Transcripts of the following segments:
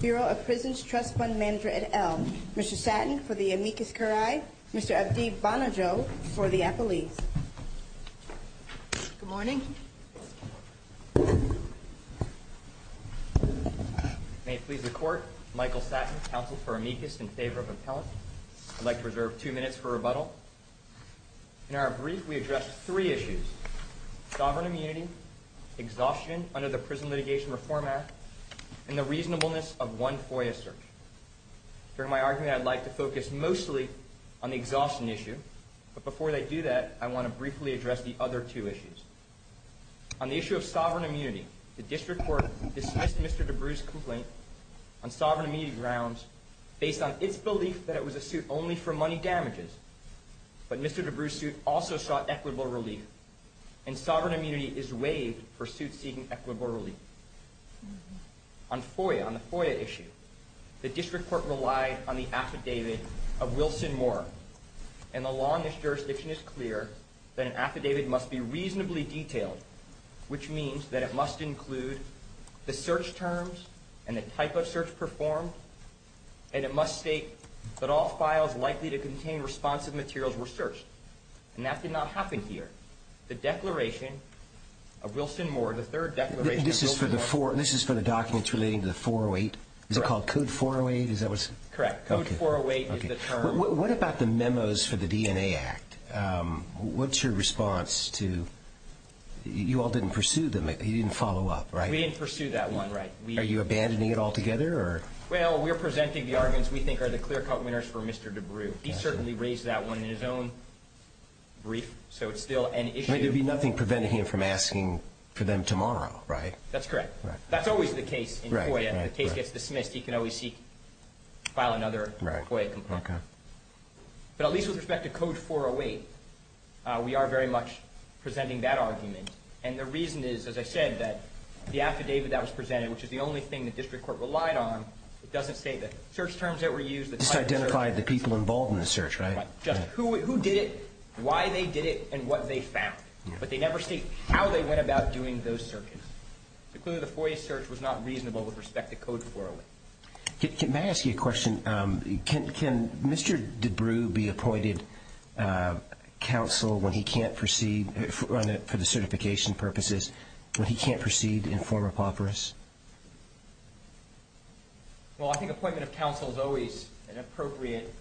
Bureau of Prisons Trust Fund Manager, et al. Mr. Satton for the amicus curiae, Mr. Abdi Bonojo for the appellees. Good morning. May it please the court, Michael Satton, counsel for amicus in favor of appellant. I'd like to reserve two minutes for rebuttal. In our brief, we addressed three issues, sovereign immunity, exhaustion under the Prison Litigation Reform Act, and the reasonableness of one FOIA search. During my argument, I'd like to focus mostly on the exhaustion issue, but before I do that, I want to briefly address the other two issues. On the issue of sovereign immunity, the district court dismissed Mr. Debrew's complaint on sovereign immunity grounds based on its belief that it was a suit only for money damages. But Mr. Debrew's suit also sought equitable relief, and sovereign immunity is waived for suits seeking equitable relief. On FOIA, on the FOIA issue, the district court relied on the affidavit of Wilson Moore, and the law in this jurisdiction is clear that an affidavit must be reasonably detailed, which means that it must include the search terms and the type of search performed, and it must state that all files likely to contain responsive materials were searched. And that did not happen here. The declaration of Wilson Moore, the third declaration of Wilson Moore… This is for the documents relating to the 408? Is it called Code 408? Correct. Code 408 is the term. What about the memos for the DNA Act? What's your response to… you all didn't pursue them. You didn't follow up, right? We didn't pursue that one, right. Are you abandoning it altogether? Well, we're presenting the arguments we think are the clear-cut winners for Mr. Debrew. He certainly raised that one in his own brief, so it's still an issue. I mean, there'd be nothing preventing him from asking for them tomorrow, right? That's correct. That's always the case in FOIA. If the case gets dismissed, he can always file another FOIA complaint. But at least with respect to Code 408, we are very much presenting that argument. And the reason is, as I said, that the affidavit that was presented, which is the only thing the district court relied on, it doesn't state the search terms that were used… It just identified the people involved in the search, right? Right. Just who did it, why they did it, and what they found. But they never state how they went about doing those searches. So clearly the FOIA search was not reasonable with respect to Code 408. May I ask you a question? Can Mr. Debrew be appointed counsel when he can't proceed, for the certification purposes, when he can't proceed in form apophoris? Well, I think appointment of counsel is always an appropriate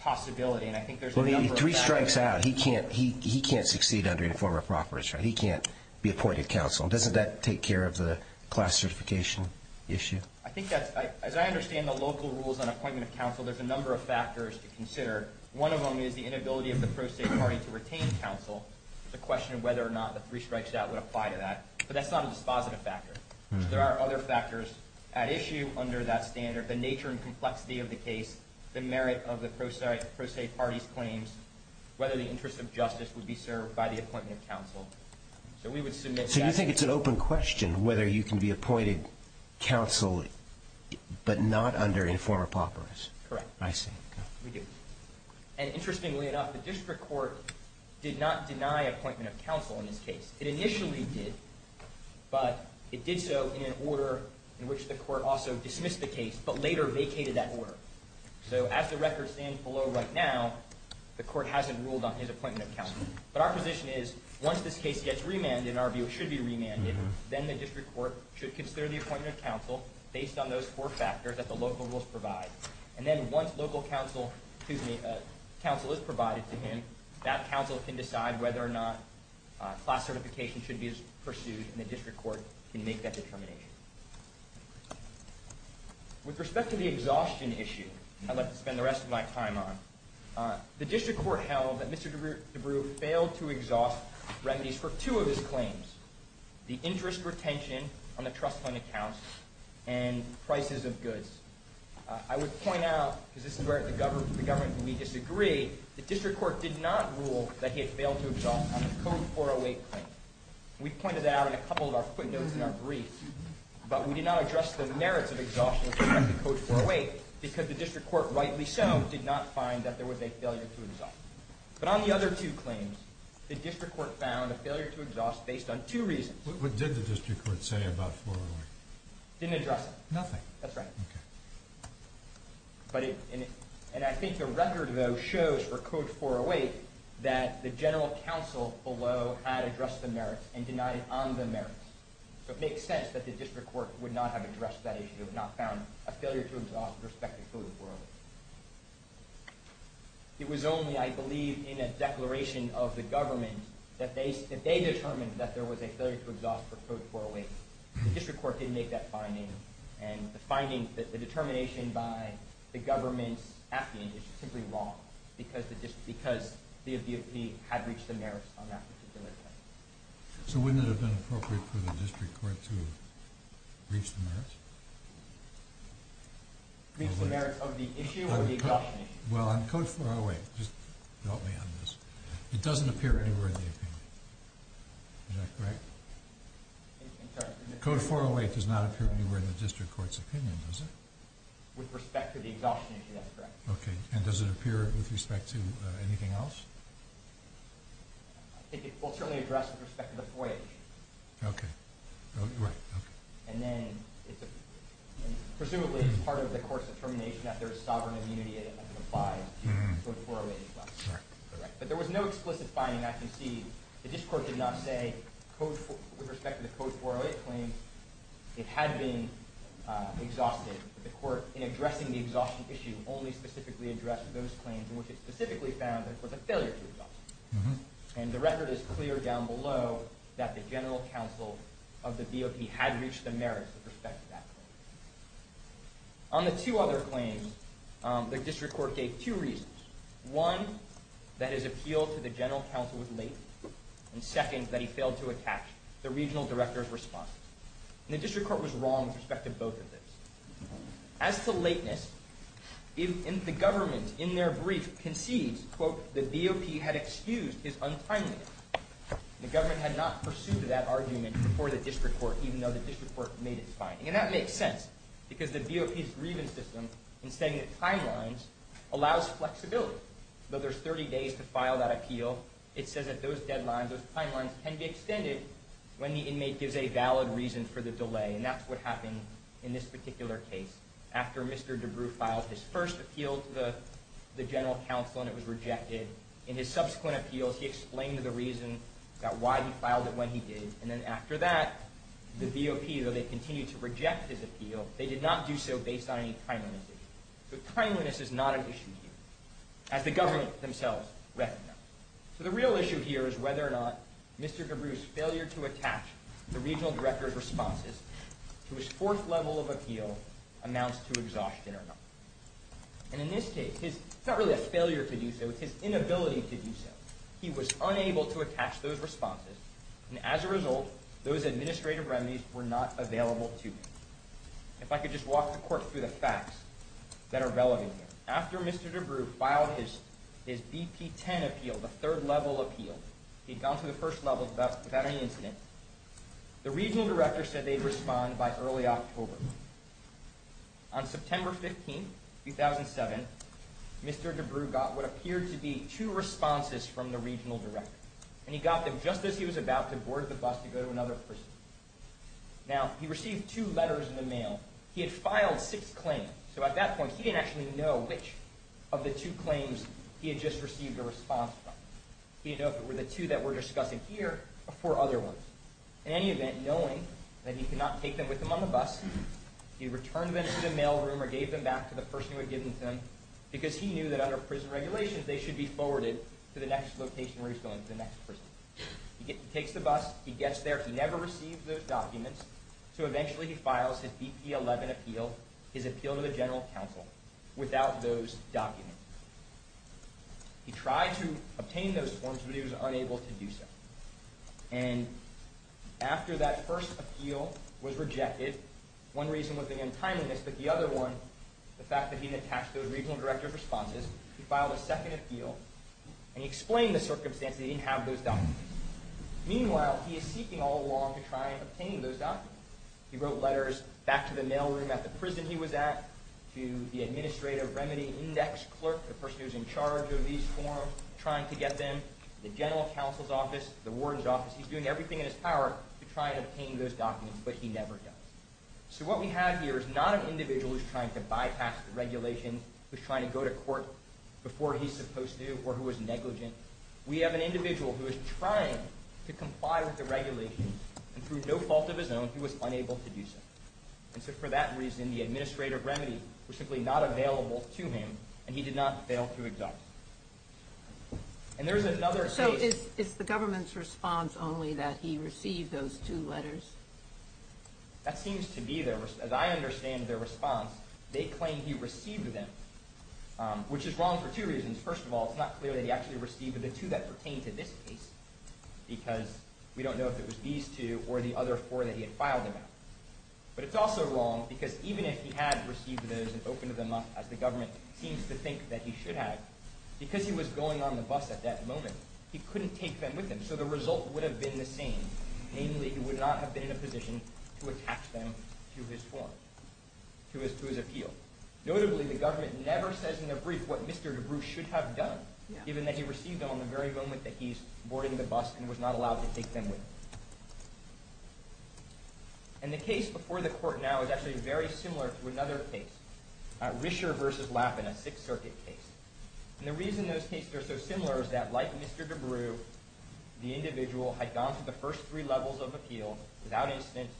possibility, and I think there's a number of… Well, he three strikes out. He can't succeed under the form apophoris, right? He can't be appointed counsel. Doesn't that take care of the class certification issue? I think that's… As I understand the local rules on appointment of counsel, there's a number of factors to consider. One of them is the inability of the pro se party to retain counsel. It's a question of whether or not the three strikes out would apply to that. But that's not a dispositive factor. There are other factors at issue under that standard. The nature and complexity of the case, the merit of the pro se party's claims, whether the interest of justice would be served by the appointment of counsel. So we would submit that… So you think it's an open question whether you can be appointed counsel, but not under inform apophoris? Correct. I see. We do. And interestingly enough, the district court did not deny appointment of counsel in this case. It initially did, but it did so in an order in which the court also dismissed the case, but later vacated that order. So as the record stands below right now, the court hasn't ruled on his appointment of counsel. But our position is once this case gets remanded, in our view it should be remanded, then the district court should consider the appointment of counsel based on those four factors that the local rules provide. And then once local counsel is provided to him, that counsel can decide whether or not class certification should be pursued, and the district court can make that determination. With respect to the exhaustion issue I'd like to spend the rest of my time on, the district court held that Mr. DeBrew failed to exhaust remedies for two of his claims, the interest retention on the trust fund accounts and prices of goods. I would point out, because this is where the government and we disagree, the district court did not rule that he had failed to exhaust on the Code 408 claim. We pointed that out in a couple of our footnotes in our brief, but we did not address the merits of exhaustion with respect to Code 408 because the district court, rightly so, did not find that there was a failure to exhaust. But on the other two claims, the district court found a failure to exhaust based on two reasons. What did the district court say about 408? It didn't address it. Nothing. That's right. And I think the record, though, shows for Code 408 that the general counsel below had addressed the merits and denied it on the merits. So it makes sense that the district court would not have addressed that issue, would not have found a failure to exhaust with respect to Code 408. It was only, I believe, in a declaration of the government that they determined that there was a failure to exhaust for Code 408. The district court didn't make that finding, and the finding that the determination by the government at the end is simply wrong because the DOP had reached the merits on that particular claim. So wouldn't it have been appropriate for the district court to reach the merits? Reach the merits of the issue or the exhaustion issue? Well, on Code 408, just help me on this, it doesn't appear anywhere in the opinion. Is that correct? Code 408 does not appear anywhere in the district court's opinion, does it? With respect to the exhaustion issue, that's correct. Okay. And does it appear with respect to anything else? I think it will certainly address with respect to the 408 issue. Okay. Right. Okay. And then presumably it's part of the court's determination that there is sovereign immunity and it applies to Code 408 as well. Correct. But there was no explicit finding I can see. The district court did not say with respect to the Code 408 claim it had been exhausted. The court, in addressing the exhaustion issue, only specifically addressed those claims in which it specifically found that it was a failure to exhaust. And the record is clear down below that the general counsel of the DOP had reached the merits with respect to that claim. On the two other claims, the district court gave two reasons. One, that his appeal to the general counsel was late. And second, that he failed to attach the regional director's response. And the district court was wrong with respect to both of those. As to lateness, the government, in their brief, concedes, quote, the DOP had excused his untimeliness. The government had not pursued that argument before the district court, even though the district court made its finding. And that makes sense because the DOP's grievance system in stating the timelines allows flexibility. But there's 30 days to file that appeal. It says that those deadlines, those timelines, can be extended when the inmate gives a valid reason for the delay. And that's what happened in this particular case. After Mr. DeBrew filed his first appeal to the general counsel and it was rejected, in his subsequent appeals he explained the reason that why he filed it when he did. And then after that, the DOP, though they continued to reject his appeal, they did not do so based on any timeliness issue. So timeliness is not an issue here, as the government themselves recognize. So the real issue here is whether or not Mr. DeBrew's failure to attach the regional director's responses to his fourth level of appeal amounts to exhaustion or not. And in this case, it's not really a failure to do so, it's his inability to do so. He was unable to attach those responses, and as a result, those administrative remedies were not available to him. If I could just walk the court through the facts that are relevant here. After Mr. DeBrew filed his BP-10 appeal, the third level appeal, he'd gone to the first level without any incident, the regional director said they'd respond by early October. On September 15, 2007, Mr. DeBrew got what appeared to be two responses from the regional director. And he got them just as he was about to board the bus to go to another prison. Now, he received two letters in the mail. He had filed six claims. So at that point, he didn't actually know which of the two claims he had just received a response from. He didn't know if it were the two that we're discussing here or four other ones. In any event, knowing that he could not take them with him on the bus, he returned them to the mailroom or gave them back to the person who had given them to him because he knew that under prison regulations, they should be forwarded to the next location where he was going, to the next prison. He takes the bus. He gets there. He never received those documents. So eventually, he files his BP-11 appeal, his appeal to the general counsel, without those documents. He tried to obtain those forms, but he was unable to do so. And after that first appeal was rejected, one reason was the untimeliness, but the other one, the fact that he didn't attach those regional director responses, he filed a second appeal, and he explained the circumstance that he didn't have those documents. Meanwhile, he is seeking all along to try and obtain those documents. He wrote letters back to the mailroom at the prison he was at, to the administrative remedy index clerk, the person who's in charge of these forms, trying to get them, the general counsel's office, the warden's office. He's doing everything in his power to try and obtain those documents, but he never does. So what we have here is not an individual who's trying to bypass the regulation, who's trying to go to court before he's supposed to, or who is negligent. We have an individual who is trying to comply with the regulation, and through no fault of his own, he was unable to do so. And so for that reason, the administrative remedy was simply not available to him, and he did not fail to exact it. And there's another case— So is the government's response only that he received those two letters? That seems to be their—as I understand their response, they claim he received them, which is wrong for two reasons. First of all, it's not clear that he actually received the two that pertain to this case, because we don't know if it was these two or the other four that he had filed about. But it's also wrong because even if he had received those and opened them up, as the government seems to think that he should have, because he was going on the bus at that moment, he couldn't take them with him. So the result would have been the same. Namely, he would not have been in a position to attach them to his form, to his appeal. Notably, the government never says in their brief what Mr. DeBrew should have done, given that he received them on the very moment that he's boarding the bus and was not allowed to take them with him. And the case before the court now is actually very similar to another case, Risher v. Lappin, a Sixth Circuit case. And the reason those cases are so similar is that, like Mr. DeBrew, the individual had gone through the first three levels of appeal without instance.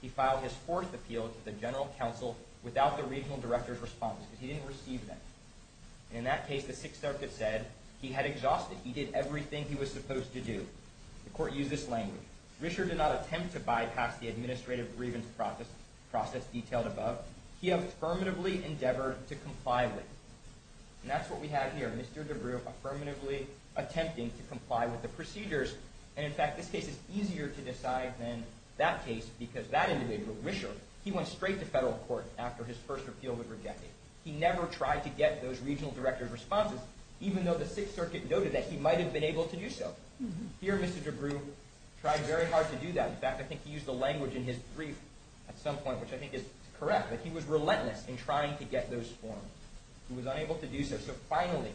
He filed his fourth appeal to the General Counsel without the Regional Director's response, because he didn't receive them. And in that case, the Sixth Circuit said he had exhausted, he did everything he was supposed to do. The court used this language. Risher did not attempt to bypass the administrative grievance process detailed above. He affirmatively endeavored to comply with it. And that's what we have here, Mr. DeBrew affirmatively attempting to comply with the procedures. And in fact, this case is easier to decide than that case, because that individual, Risher, he went straight to federal court after his first appeal was rejected. He never tried to get those Regional Director's responses, even though the Sixth Circuit noted that he might have been able to do so. Here, Mr. DeBrew tried very hard to do that. In fact, I think he used the language in his brief at some point, which I think is correct, but he was relentless in trying to get those forms. He was unable to do so. So finally,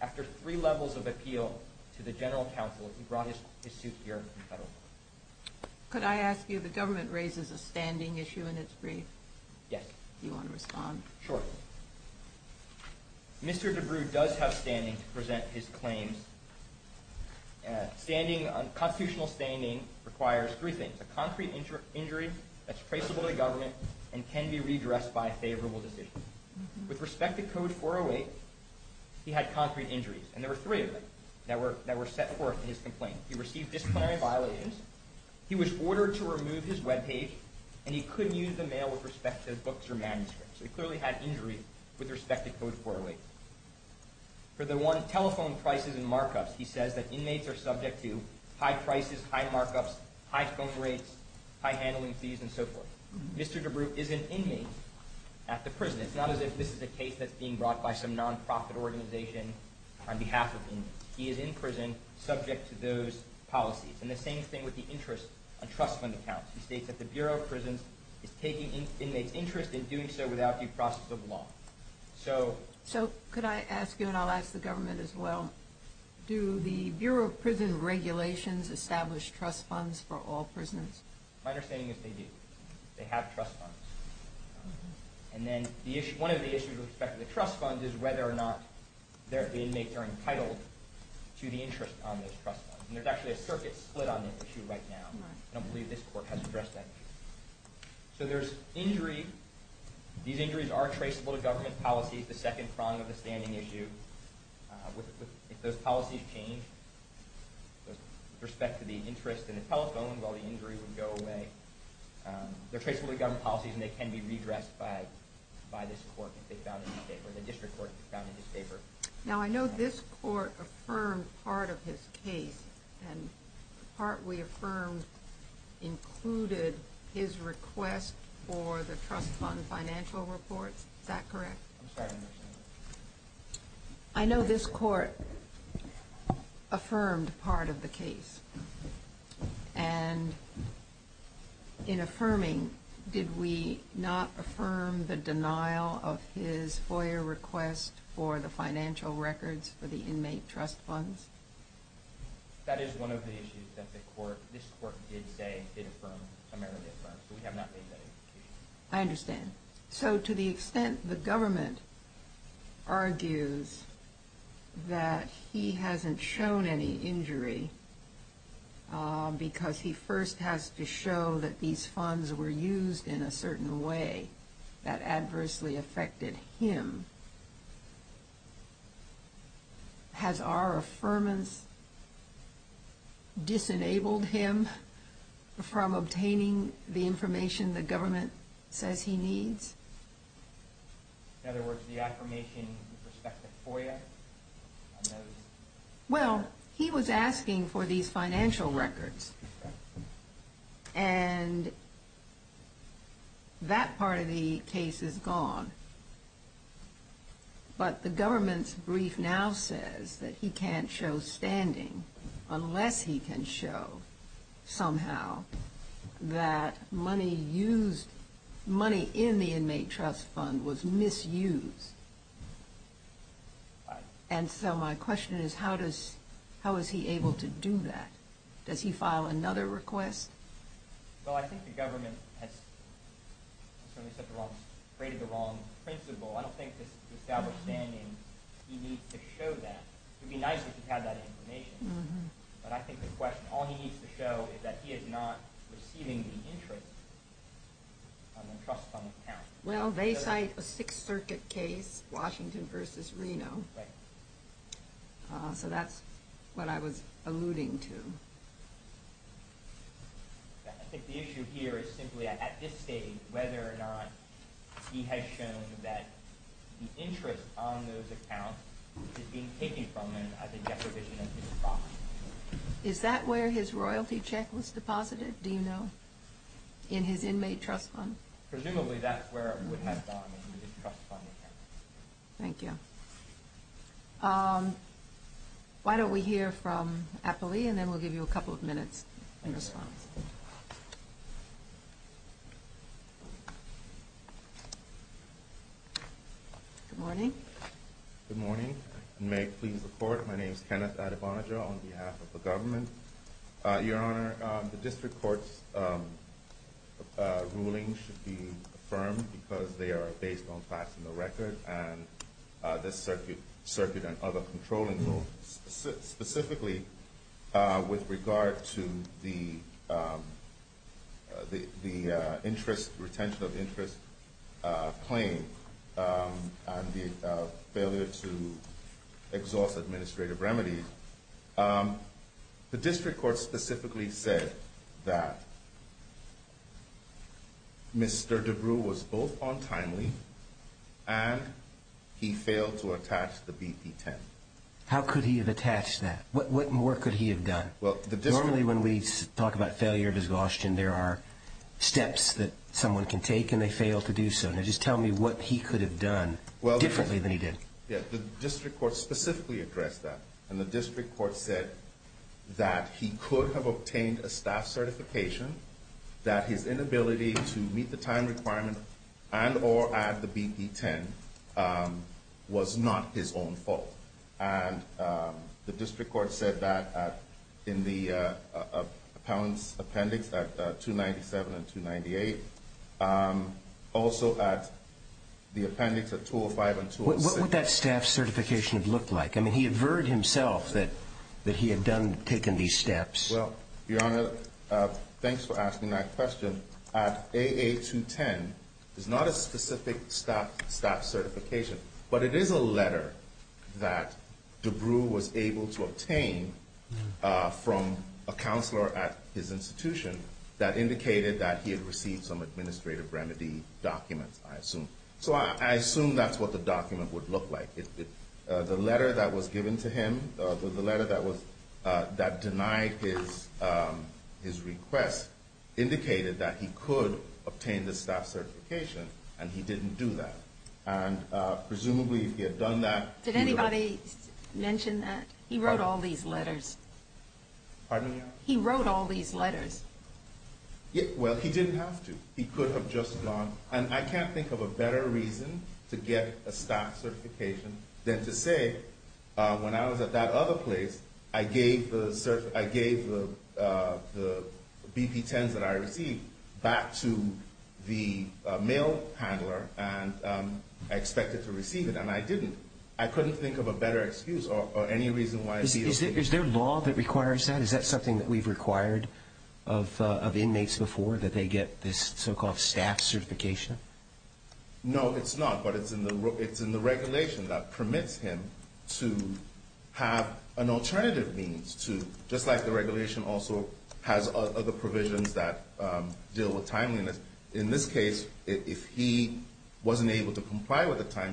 after three levels of appeal to the General Counsel, he brought his suit here to federal court. Could I ask you, the government raises a standing issue in its brief. Yes. Do you want to respond? Sure. Mr. DeBrew does have standing to present his claims. Constitutional standing requires three things, a concrete injury that's traceable to government and can be redressed by a favorable decision. With respect to Code 408, he had concrete injuries, and there were three of them that were set forth in his complaint. He received disciplinary violations, he was ordered to remove his webpage, and he couldn't use the mail with respect to his books or manuscripts. So he clearly had injury with respect to Code 408. For the one telephone prices and markups, he says that inmates are subject to high prices, high markups, high phone rates, high handling fees, and so forth. Mr. DeBrew is an inmate at the prison. It's not as if this is a case that's being brought by some nonprofit organization on behalf of inmates. He is in prison subject to those policies. And the same thing with the interest and trust fund accounts. He states that the Bureau of Prisons is taking inmates' interest and doing so without due process of law. So could I ask you, and I'll ask the government as well, do the Bureau of Prisons regulations establish trust funds for all prisoners? My understanding is they do. They have trust funds. And then one of the issues with respect to the trust funds is whether or not the inmates are entitled to the interest on those trust funds. And there's actually a circuit split on this issue right now. I don't believe this court has addressed that. So there's injury. These injuries are traceable to government policies, the second prong of the standing issue. If those policies change with respect to the interest and the telephone, well, the injury would go away. They're traceable to government policies and they can be redressed by this court if they found it in favor, Now, I know this court affirmed part of his case, and the part we affirmed included his request for the trust fund financial report. Is that correct? I'm sorry, I didn't understand that. I know this court affirmed part of the case. And in affirming, did we not affirm the denial of his FOIA request for the financial records for the inmate trust funds? That is one of the issues that this court did say it affirmed, primarily affirmed. So we have not made that indication. I understand. So to the extent the government argues that he hasn't shown any injury because he first has to show that these funds were used in a certain way that adversely affected him, has our affirmance disenabled him from obtaining the information the government says he needs? In other words, the affirmation with respect to FOIA? Well, he was asking for these financial records, and that part of the case is gone. But the government's brief now says that he can't show standing unless he can show somehow that money used, money in the inmate trust fund was misused. And so my question is, how is he able to do that? Does he file another request? Well, I think the government has created the wrong principle. I don't think to establish standing, he needs to show that. It would be nice if he had that information. But I think the question, all he needs to show is that he is not receiving the interest on the trust fund account. Well, they cite a Sixth Circuit case, Washington v. Reno. Right. So that's what I was alluding to. I think the issue here is simply at this stage whether or not he has shown that the interest on those accounts is being taken from him as a deprivation of his profits. Is that where his royalty check was deposited, do you know, in his inmate trust fund? Presumably that's where it would have gone, in the inmate trust fund account. Thank you. Why don't we hear from Apoli, and then we'll give you a couple of minutes in response. Good morning. Good morning. May it please the Court, my name is Kenneth Adebanaja on behalf of the government. Your Honor, the district court's ruling should be affirmed because they are based on facts and the record, and this circuit and other controlling rules. Specifically, with regard to the interest, retention of interest claim, and the failure to exhaust administrative remedies, the district court specifically said that Mr. DeBrew was both untimely, and he failed to attach the BP-10. How could he have attached that? What more could he have done? Normally when we talk about failure of exhaustion, there are steps that someone can take, and they fail to do so. Now just tell me what he could have done differently than he did. The district court specifically addressed that, and the district court said that he could have obtained a staff certification, that his inability to meet the time requirement and or add the BP-10 was not his own fault. And the district court said that in the appellant's appendix at 297 and 298, also at the appendix at 205 and 206. What would that staff certification have looked like? I mean, he averred himself that he had taken these steps. Well, Your Honor, thanks for asking that question. At AA-210, there's not a specific staff certification, but it is a letter that DeBrew was able to obtain from a counselor at his institution that indicated that he had received some administrative remedy documents, I assume. So I assume that's what the document would look like. The letter that was given to him, the letter that denied his request, indicated that he could obtain the staff certification, and he didn't do that. And presumably, if he had done that, he would have- Did anybody mention that? He wrote all these letters. Pardon me, Your Honor? He wrote all these letters. Well, he didn't have to. He could have just gone. And I can't think of a better reason to get a staff certification than to say, when I was at that other place, I gave the BP-10s that I received back to the mail handler, and I expected to receive it, and I didn't. I couldn't think of a better excuse or any reason why- Is there law that requires that? Is that something that we've required of inmates before, that they get this so-called staff certification? No, it's not, but it's in the regulation that permits him to have an alternative means to, just like the regulation also has other provisions that deal with timeliness. In this case, if he wasn't able to comply with the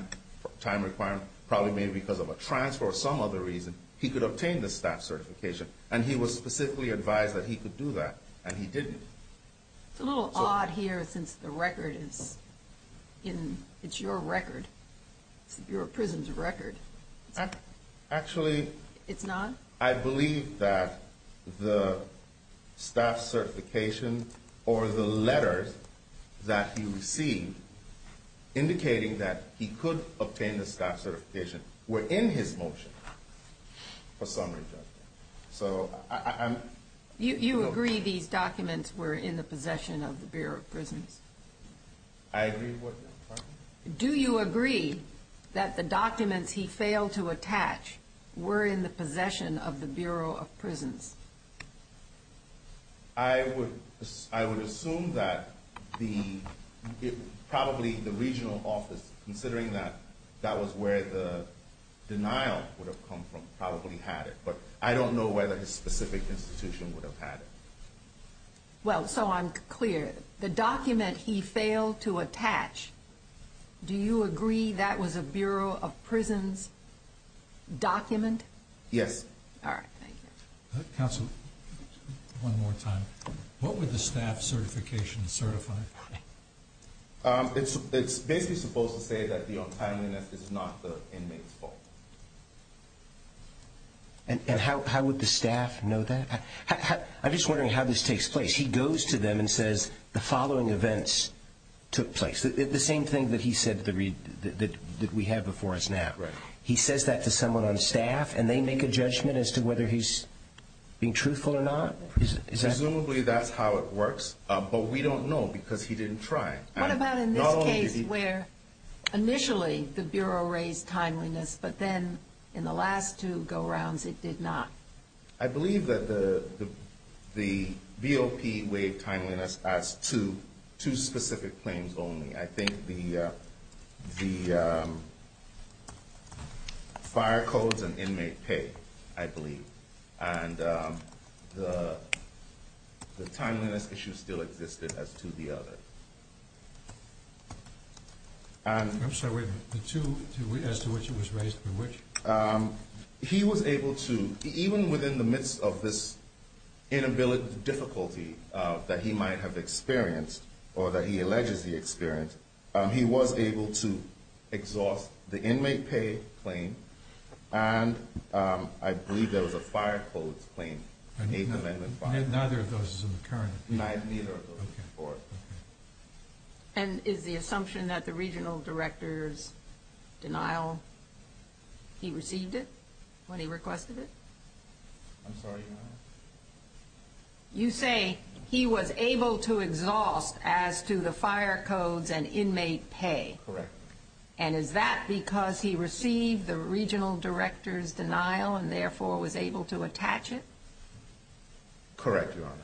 time requirement, probably maybe because of a transfer or some other reason, he could obtain the staff certification. And he was specifically advised that he could do that, and he didn't. It's a little odd here, since the record is in- it's your record. It's the Bureau of Prisons' record. Actually- It's not? I believe that the staff certification or the letters that he received indicating that he could obtain the staff certification were in his motion for summary judgment. So, I'm- You agree these documents were in the possession of the Bureau of Prisons? I agree with your question. Do you agree that the documents he failed to attach were in the possession of the Bureau of Prisons? I would assume that the- probably the regional office, considering that that was where the denial would have come from, probably had it. But I don't know whether his specific institution would have had it. Well, so I'm clear. The document he failed to attach, do you agree that was a Bureau of Prisons document? Yes. All right. Thank you. Counsel, one more time. What would the staff certification certify? It's basically supposed to say that the untimeliness is not the inmate's fault. And how would the staff know that? I'm just wondering how this takes place. He goes to them and says the following events took place. The same thing that he said that we have before us now. He says that to someone on staff, and they make a judgment as to whether he's being truthful or not? Presumably that's how it works, but we don't know because he didn't try. What about in this case where initially the Bureau raised timeliness, but then in the last two go-rounds it did not? I believe that the VOP waived timeliness as to two specific claims only. I think the fire codes and inmate pay, I believe. And the timeliness issue still existed as to the other. I'm sorry, wait. As to which it was raised, by which? He was able to, even within the midst of this inability, difficulty that he might have experienced, or that he alleges he experienced, he was able to exhaust the inmate pay claim, and I believe there was a fire codes claim. Neither of those is in the current? Neither of those. And is the assumption that the regional director's denial, he received it when he requested it? I'm sorry, Your Honor? You say he was able to exhaust as to the fire codes and inmate pay. Correct. And is that because he received the regional director's denial and therefore was able to attach it? Correct, Your Honor.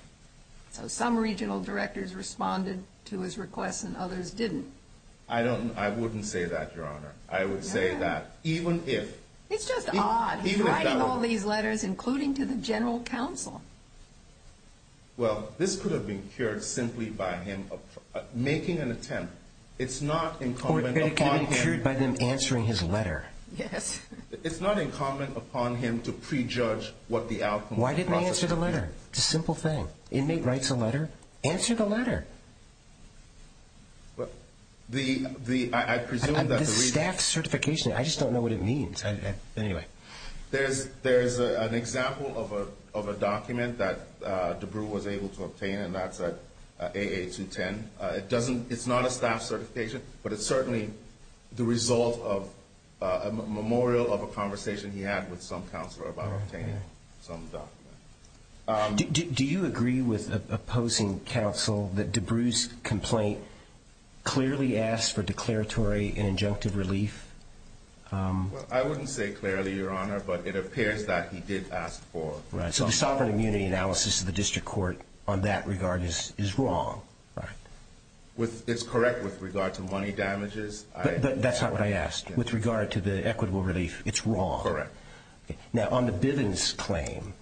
So some regional directors responded to his request and others didn't. I wouldn't say that, Your Honor. I would say that even if. It's just odd. Even if that were true. He's writing all these letters, including to the general counsel. Well, this could have been cured simply by him making an attempt. It's not incumbent upon him. Or it could have been cured by them answering his letter. Yes. It's not incumbent upon him to prejudge what the outcome of the process would be. Answer the letter. It's a simple thing. Inmate writes a letter. Answer the letter. I presume that the reason. The staff certification. I just don't know what it means. Anyway. There's an example of a document that DeBrew was able to obtain, and that's at AA-210. It's not a staff certification, but it's certainly the result of a memorial of a conversation he had with some counselor about obtaining some document. Do you agree with opposing counsel that DeBrew's complaint clearly asked for declaratory and injunctive relief? I wouldn't say clearly, Your Honor, but it appears that he did ask for. Right. So the sovereign immunity analysis of the district court on that regard is wrong. Right. It's correct with regard to money damages. But that's not what I asked. With regard to the equitable relief, it's wrong. Correct. Now, on the Bivens claim,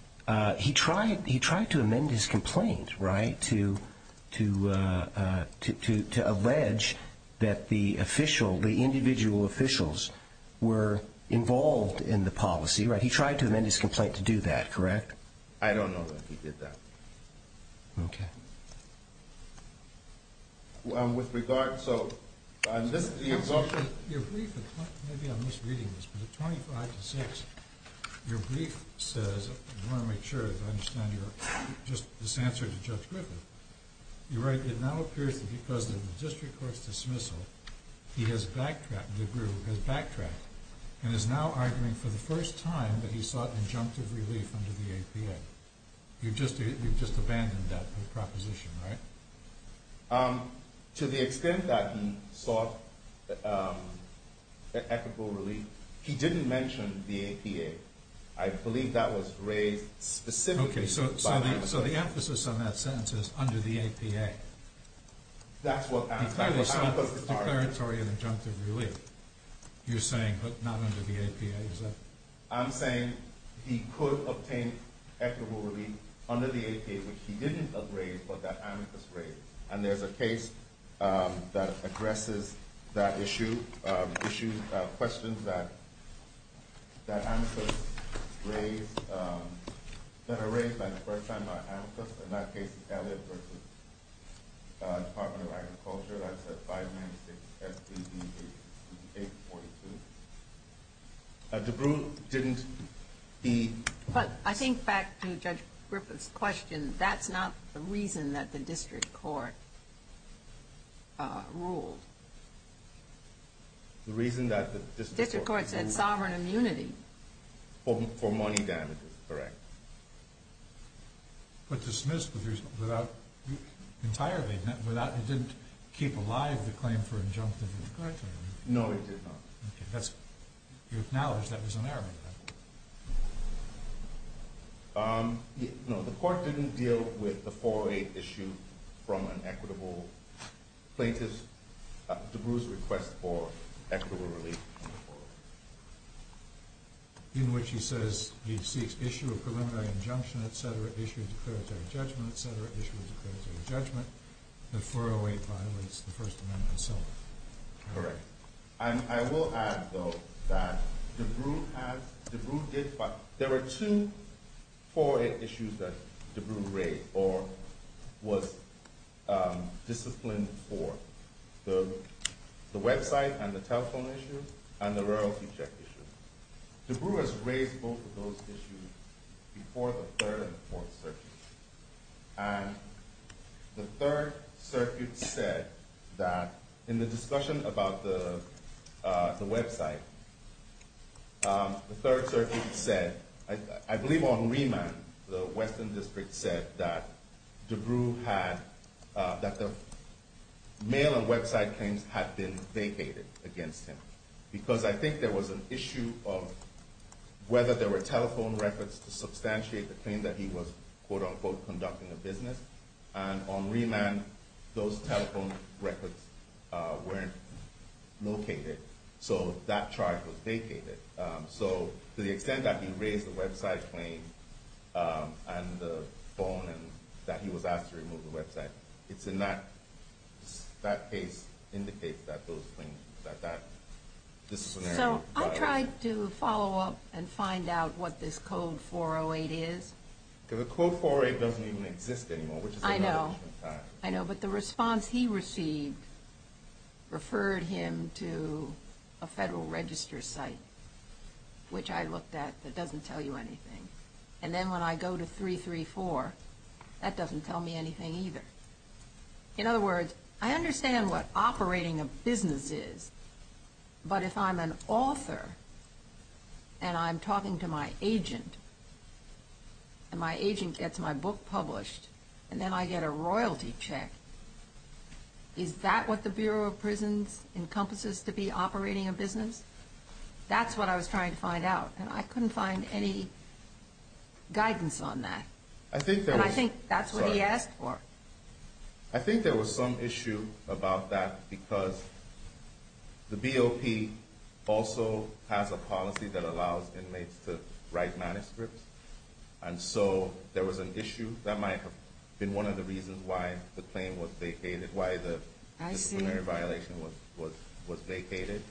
he tried to amend his complaint, right, to allege that the individual officials were involved in the policy. He tried to amend his complaint to do that, correct? I don't know that he did that. Okay. With regard, so this is the result. Your brief, maybe I'm misreading this, but at 25-6, your brief says, I want to make sure I understand your, just this answer to Judge Griffith, you write, it now appears that because of the district court's dismissal, he has backtracked, DeBrew has backtracked, and is now arguing for the first time that he sought injunctive relief under the APA. You've just abandoned that proposition, right? To the extent that he sought equitable relief, he didn't mention the APA. I believe that was raised specifically. Okay. So the emphasis on that sentence is under the APA. That's what I'm saying. Declaratory and injunctive relief, you're saying, but not under the APA, is that? I'm saying he could obtain equitable relief under the APA, which he didn't agree, but that amicus raised. And there's a case that addresses that issue, questions that amicus raised, that are raised for the first time by amicus, and that case is Elliott v. Department of Agriculture. That's at 596 S.E.B. 842. DeBrew didn't be... But I think back to Judge Griffith's question, that's not the reason that the district court ruled. The reason that the district court ruled... District court said sovereign immunity. For money damages, correct. But dismissed without entirely... It didn't keep alive the claim for injunctive... No, it did not. Okay. You acknowledge that was an error? No. The court didn't deal with the 408 issue from an equitable plaintiff... DeBrew's request for equitable relief. In which he says he seeks issue of preliminary injunction, et cetera, issue of declaratory judgment, et cetera, issue of declaratory judgment. The 408 violates the First Amendment itself. Correct. And I will add, though, that DeBrew has... DeBrew did... DeBrew has raised both of those issues before the Third and the Fourth Circuit. And the Third Circuit said that in the discussion about the website... The Third Circuit said... I believe on remand, the Western District said that DeBrew had... Mail and website claims had been vacated against him. Because I think there was an issue of... Whether there were telephone records to substantiate the claim that he was... Quote, unquote, conducting a business. And on remand, those telephone records weren't located. So, that charge was vacated. So, to the extent that he raised the website claim... And the phone... That he was asked to remove the website. It's in that... That case indicates that those claims... That that disciplinary... So, I tried to follow up... And find out what this Code 408 is. The Code 408 doesn't even exist anymore. I know. I know, but the response he received... Referred him to a Federal Register site. Which I looked at... That doesn't tell you anything. And then when I go to 334... That doesn't tell me anything either. In other words... I understand what operating a business is. But if I'm an author... And I'm talking to my agent... And my agent gets my book published... And then I get a royalty check... Is that what the Bureau of Prisons encompasses to be operating a business? That's what I was trying to find out. And I couldn't find any guidance on that. I think there was... And I think that's what he asked for. I think there was some issue about that. Because the BOP also has a policy that allows inmates to write manuscripts. And so there was an issue. That might have been one of the reasons why the claim was vacated. Why the disciplinary violation was vacated.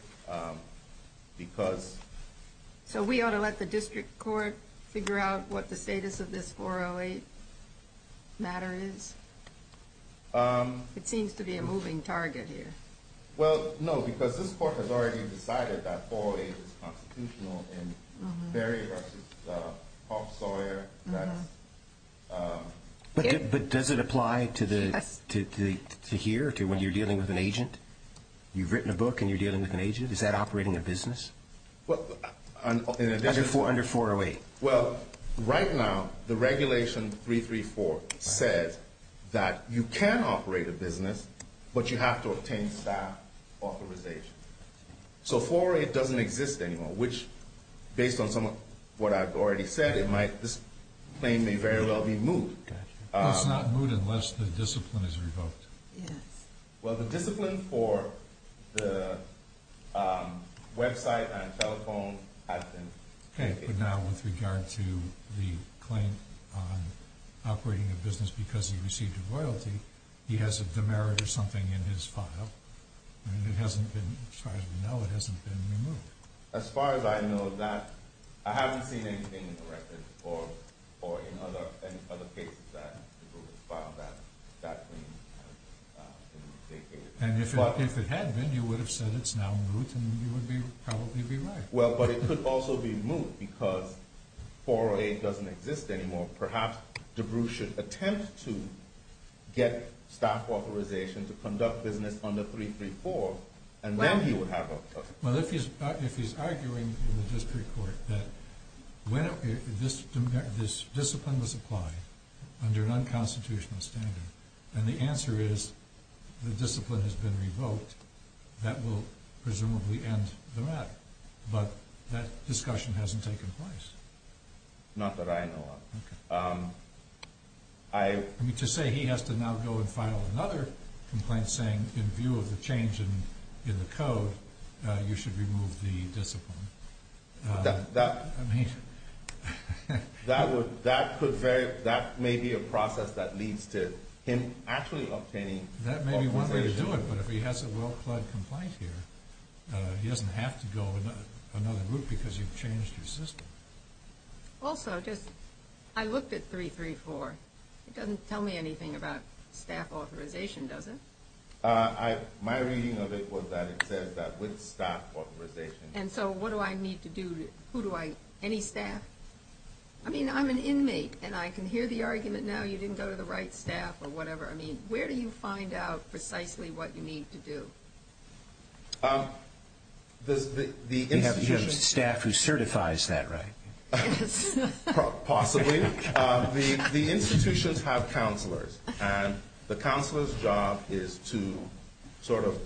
Because... So we ought to let the district court figure out what the status of this 408 matter is? It seems to be a moving target here. Well, no. Because this court has already decided that 408 is constitutional in Berry v. Hoffsauer. But does it apply to here? To when you're dealing with an agent? You've written a book and you're dealing with an agent? Is that operating a business? Under 408. Well, right now, the regulation 334 says that you can operate a business, but you have to obtain staff authorization. So 408 doesn't exist anymore. Which, based on what I've already said, this claim may very well be moved. It's not moved unless the discipline is revoked. Yes. Well, the discipline for the website and telephone has been... Okay, but now with regard to the claim on operating a business because he received a royalty, he has a demerit or something in his file. And it hasn't been, as far as we know, it hasn't been removed. As far as I know of that, I haven't seen anything in the records or in any other cases that DeBrew has filed that claim. And if it had been, you would have said it's now moved and you would probably be right. Well, but it could also be moved because 408 doesn't exist anymore. Perhaps DeBrew should attempt to get staff authorization to conduct business under 334, and then he would have a... This discipline was applied under an unconstitutional standard, and the answer is the discipline has been revoked. That will presumably end the matter. But that discussion hasn't taken place. Not that I know of. I mean, to say he has to now go and file another complaint saying, in view of the change in the code, you should remove the discipline. That could vary. That may be a process that leads to him actually obtaining authorization. That may be one way to do it, but if he has a well-plugged complaint here, he doesn't have to go another route because you've changed your system. Also, I looked at 334. It doesn't tell me anything about staff authorization, does it? My reading of it was that it says that with staff authorization. And so what do I need to do? Who do I?.. Any staff? I mean, I'm an inmate, and I can hear the argument now, you didn't go to the right staff or whatever. I mean, where do you find out precisely what you need to do? You have staff who certifies that, right? Yes. Possibly. The institutions have counselors, and the counselor's job is to sort of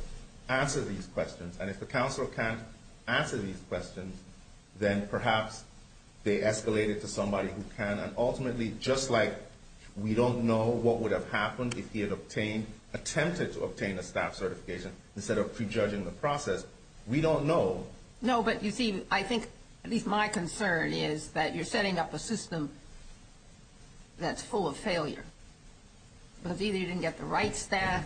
answer these questions. And if the counselor can't answer these questions, then perhaps they escalate it to somebody who can. And ultimately, just like we don't know what would have happened if he had attempted to obtain a staff certification instead of prejudging the process, we don't know. No, but you see, I think at least my concern is that you're setting up a system that's full of failure because either you didn't get the right staff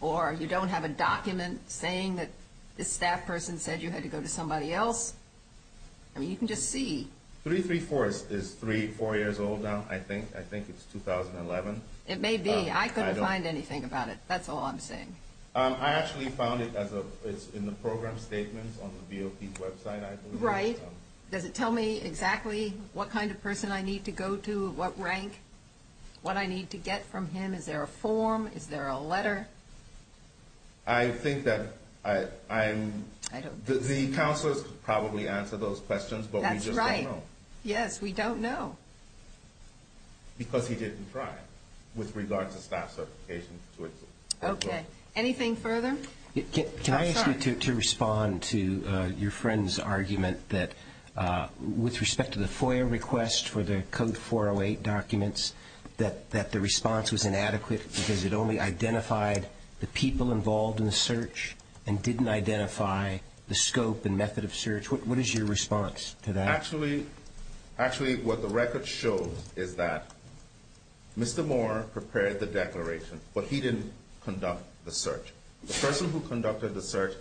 or you don't have a document saying that this staff person said you had to go to somebody else. I mean, you can just see. 334 is three, four years old now, I think. I think it's 2011. It may be. I couldn't find anything about it. That's all I'm saying. I actually found it in the program statements on the VOP's website, I believe. Right. Does it tell me exactly what kind of person I need to go to, what rank, what I need to get from him? Is there a form? Is there a letter? I think that the counselors could probably answer those questions, but we just don't know. That's right. Yes, we don't know. Because he didn't try with regards to staff certification. Okay. Anything further? Can I ask you to respond to your friend's argument that with respect to the FOIA request for the Code 408 documents, that the response was inadequate because it only identified the people involved in the search and didn't identify the scope and method of search? What is your response to that? Actually, what the record shows is that Mr. Moore prepared the declaration, but he didn't conduct the search. The person who conducted the search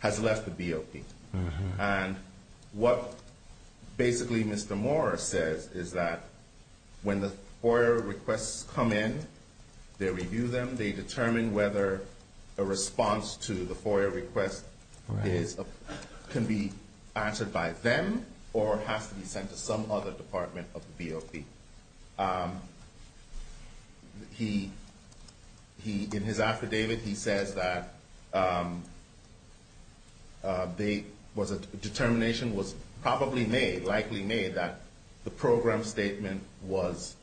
has left the VOP. And what basically Mr. Moore says is that when the FOIA requests come in, they review them, they determine whether a response to the FOIA request can be answered by them or has to be sent to some other department of the VOP. He, in his affidavit, he says that the determination was probably made, likely made that the program statement was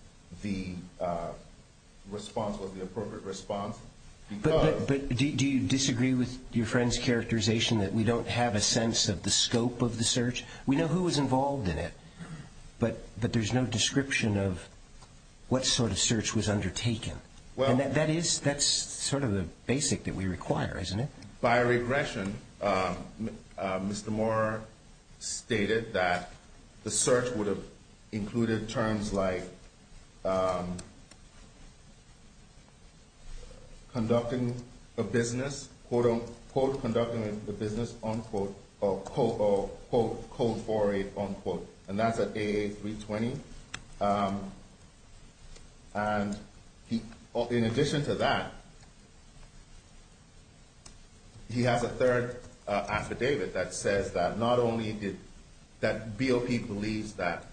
the response, was the appropriate response. But do you disagree with your friend's characterization that we don't have a sense of the scope of the search? We know who was involved in it, but there's no description of what sort of search was undertaken. That's sort of the basic that we require, isn't it? By regression, Mr. Moore stated that the search would have included terms like conducting a business, quote-unquote, conducting a business, unquote, or quote-unquote, code for it, unquote. And that's at AA320. And in addition to that, he has a third affidavit that says that not only did, that VOP believes that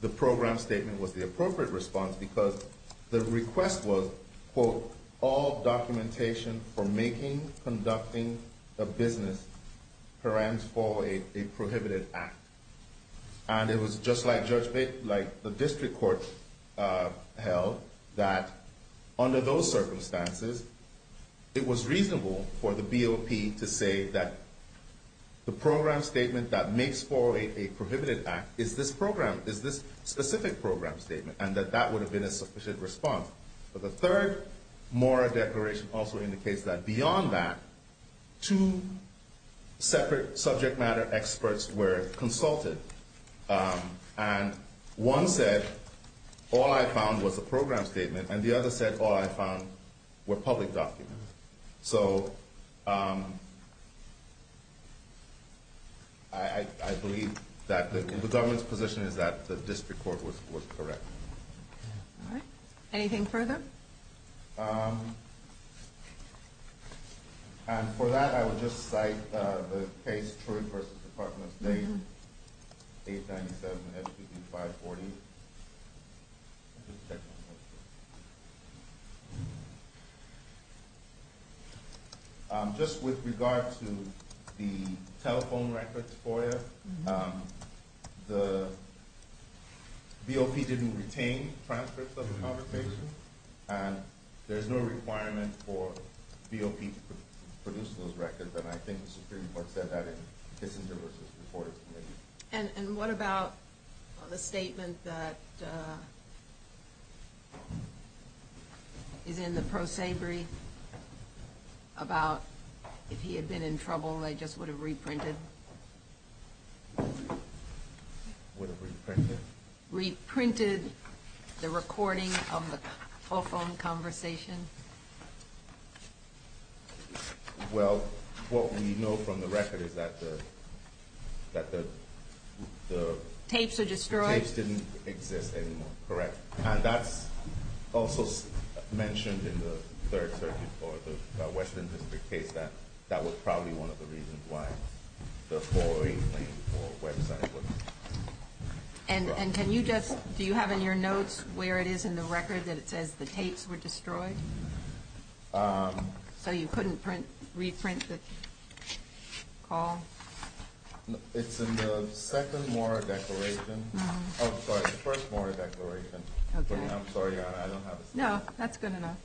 the program statement was the appropriate response because the request was, quote, all documentation for making, conducting, a business params for a prohibited act. And it was just like the district court held that under those circumstances, it was reasonable for the VOP to say that the program statement that makes for a prohibited act is this program, and that that would have been a sufficient response. But the third Moore declaration also indicates that beyond that, two separate subject matter experts were consulted. And one said, all I found was a program statement, and the other said, all I found were public documents. So I believe that the government's position is that the district court was correct. All right. Anything further? And for that, I would just cite the case Truitt v. Department of State, 897-SPP-540. Just with regard to the telephone records FOIA, the VOP didn't retain transcripts of the conversation, and there's no requirement for VOP to produce those records, and I think the Supreme Court said that in Kissinger v. Reporters Committee. And what about the statement that is in the pro sabre about if he had been in trouble, they just would have reprinted the recording of the telephone conversation? Well, what we know from the record is that the tapes didn't exist anymore, correct? And that's also mentioned in the third circuit for the Western District case that that was probably one of the reasons why the FOIA claim for Web Center wasn't brought up. And can you just – do you have in your notes where it is in the record that it says the tapes were destroyed? So you couldn't reprint the call? It's in the second Mora declaration. Oh, sorry, the first Mora declaration. Okay. I'm sorry, I don't have it. No, that's good enough.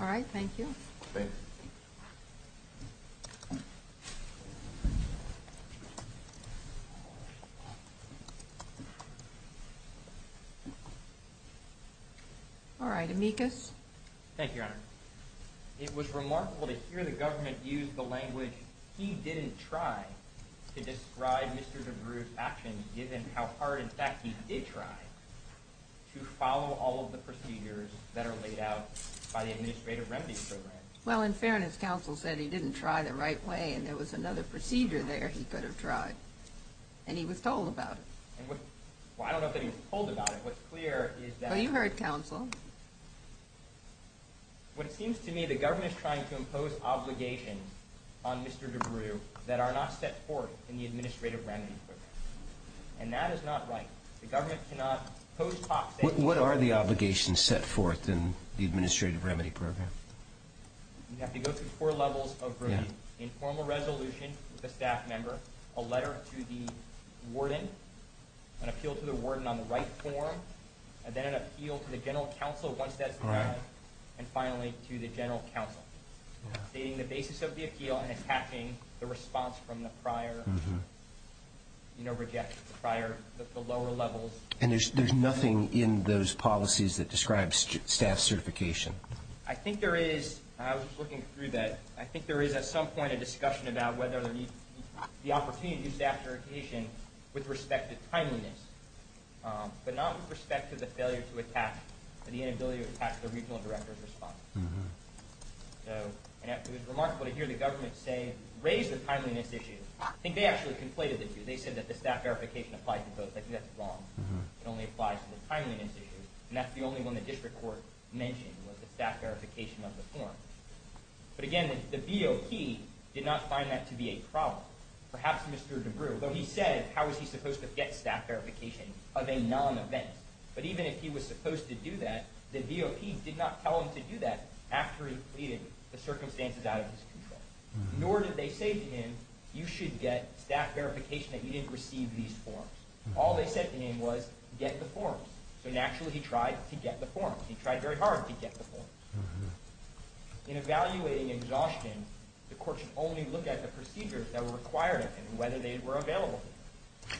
All right, thank you. Thank you. All right, Amicus. Thank you, Your Honor. It was remarkable to hear the government use the language he didn't try to describe Mr. DeBruyne's actions, given how hard in fact he did try to follow all of the procedures that are laid out by the Administrative Remedies Program. Well, in fairness, counsel said he didn't try the right way and there was another procedure there he could have tried. And he was told about it. Well, I don't know that he was told about it. What's clear is that – Well, you heard counsel. Well, it seems to me the government is trying to impose obligations on Mr. DeBruyne that are not set forth in the Administrative Remedies Program. And that is not right. The government cannot post hoc statements – What are the obligations set forth in the Administrative Remedies Program? You have to go through four levels of review. Informal resolution with a staff member, a letter to the warden, an appeal to the warden on the right form, and then an appeal to the general counsel once that's done, and finally to the general counsel stating the basis of the appeal and attaching the response from the prior, you know, the lower levels. And there's nothing in those policies that describes staff certification? I think there is. I was looking through that. I think there is at some point a discussion about whether the opportunity to do staff verification with respect to timeliness, but not with respect to the failure to attach or the inability to attach the regional director's response. And it was remarkable to hear the government say, raise the timeliness issue. I think they actually conflated the two. They said that the staff verification applies to both. I think that's wrong. It only applies to the timeliness issue. And that's the only one the district court mentioned was the staff verification of the form. But again, the VOP did not find that to be a problem. Perhaps Mr. DeBrew, though he said how was he supposed to get staff verification of a non-event, but even if he was supposed to do that, the VOP did not tell him to do that after he pleaded the circumstances out of his control. Nor did they say to him, you should get staff verification that you didn't receive these forms. All they said to him was, get the forms. So naturally he tried to get the forms. He tried very hard to get the forms. In evaluating exhaustion, the court should only look at the procedures that were required of him and whether they were available.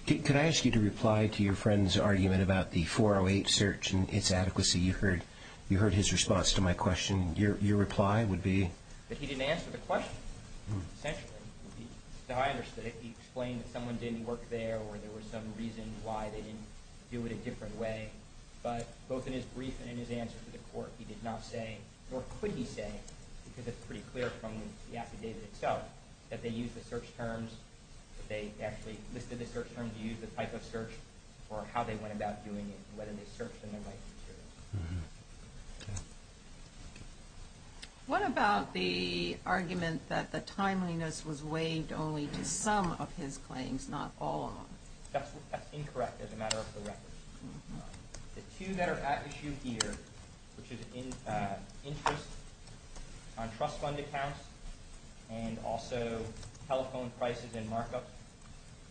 Could I ask you to reply to your friend's argument about the 408 search and its adequacy? You heard his response to my question. Your reply would be? But he didn't answer the question, essentially. I understood it. He explained that someone didn't work there or there was some reason why they didn't do it a different way. But both in his brief and in his answer to the court, he did not say, nor could he say, because it's pretty clear from the affidavit itself, that they used the search terms, that they actually listed the search terms, used the type of search, or how they went about doing it, whether they searched in the right materials. Okay. What about the argument that the timeliness was waived only to some of his claims, not all of them? That's incorrect as a matter of the record. The two that are at issue here, which is interest on trust fund accounts and also telephone prices and markups,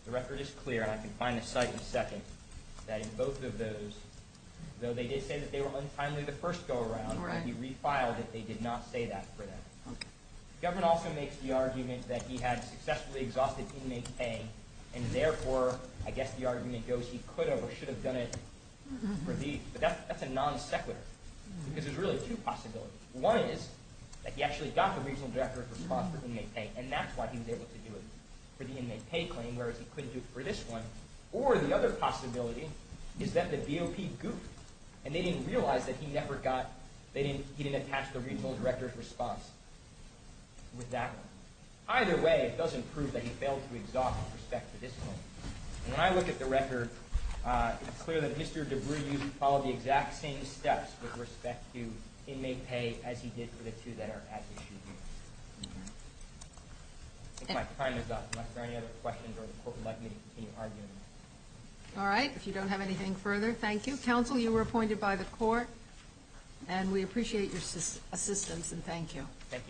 the record is clear, and I can find the site in a second, that in both of those, though they did say that they were untimely the first go-around, that he refiled it, they did not say that for that. The government also makes the argument that he had successfully exhausted inmate pay and therefore, I guess the argument goes he could have or should have done it for these. But that's a non-sequitur because there's really two possibilities. One is that he actually got the regional directorate response for inmate pay, and that's why he was able to do it for the inmate pay claim, whereas he couldn't do it for this one. Or the other possibility is that the DOP goofed, and they didn't realize that he didn't attach the regional director's response with that one. Either way, it doesn't prove that he failed to exhaust in respect to this one. When I look at the record, it's clear that Mr. DeBruyne followed the exact same steps with respect to inmate pay as he did for the two that are at issue here. I think my time is up. Unless there are any other questions or the court would like me to continue arguing. All right. If you don't have anything further, thank you. Counsel, you were appointed by the court, and we appreciate your assistance and thank you. Thank you.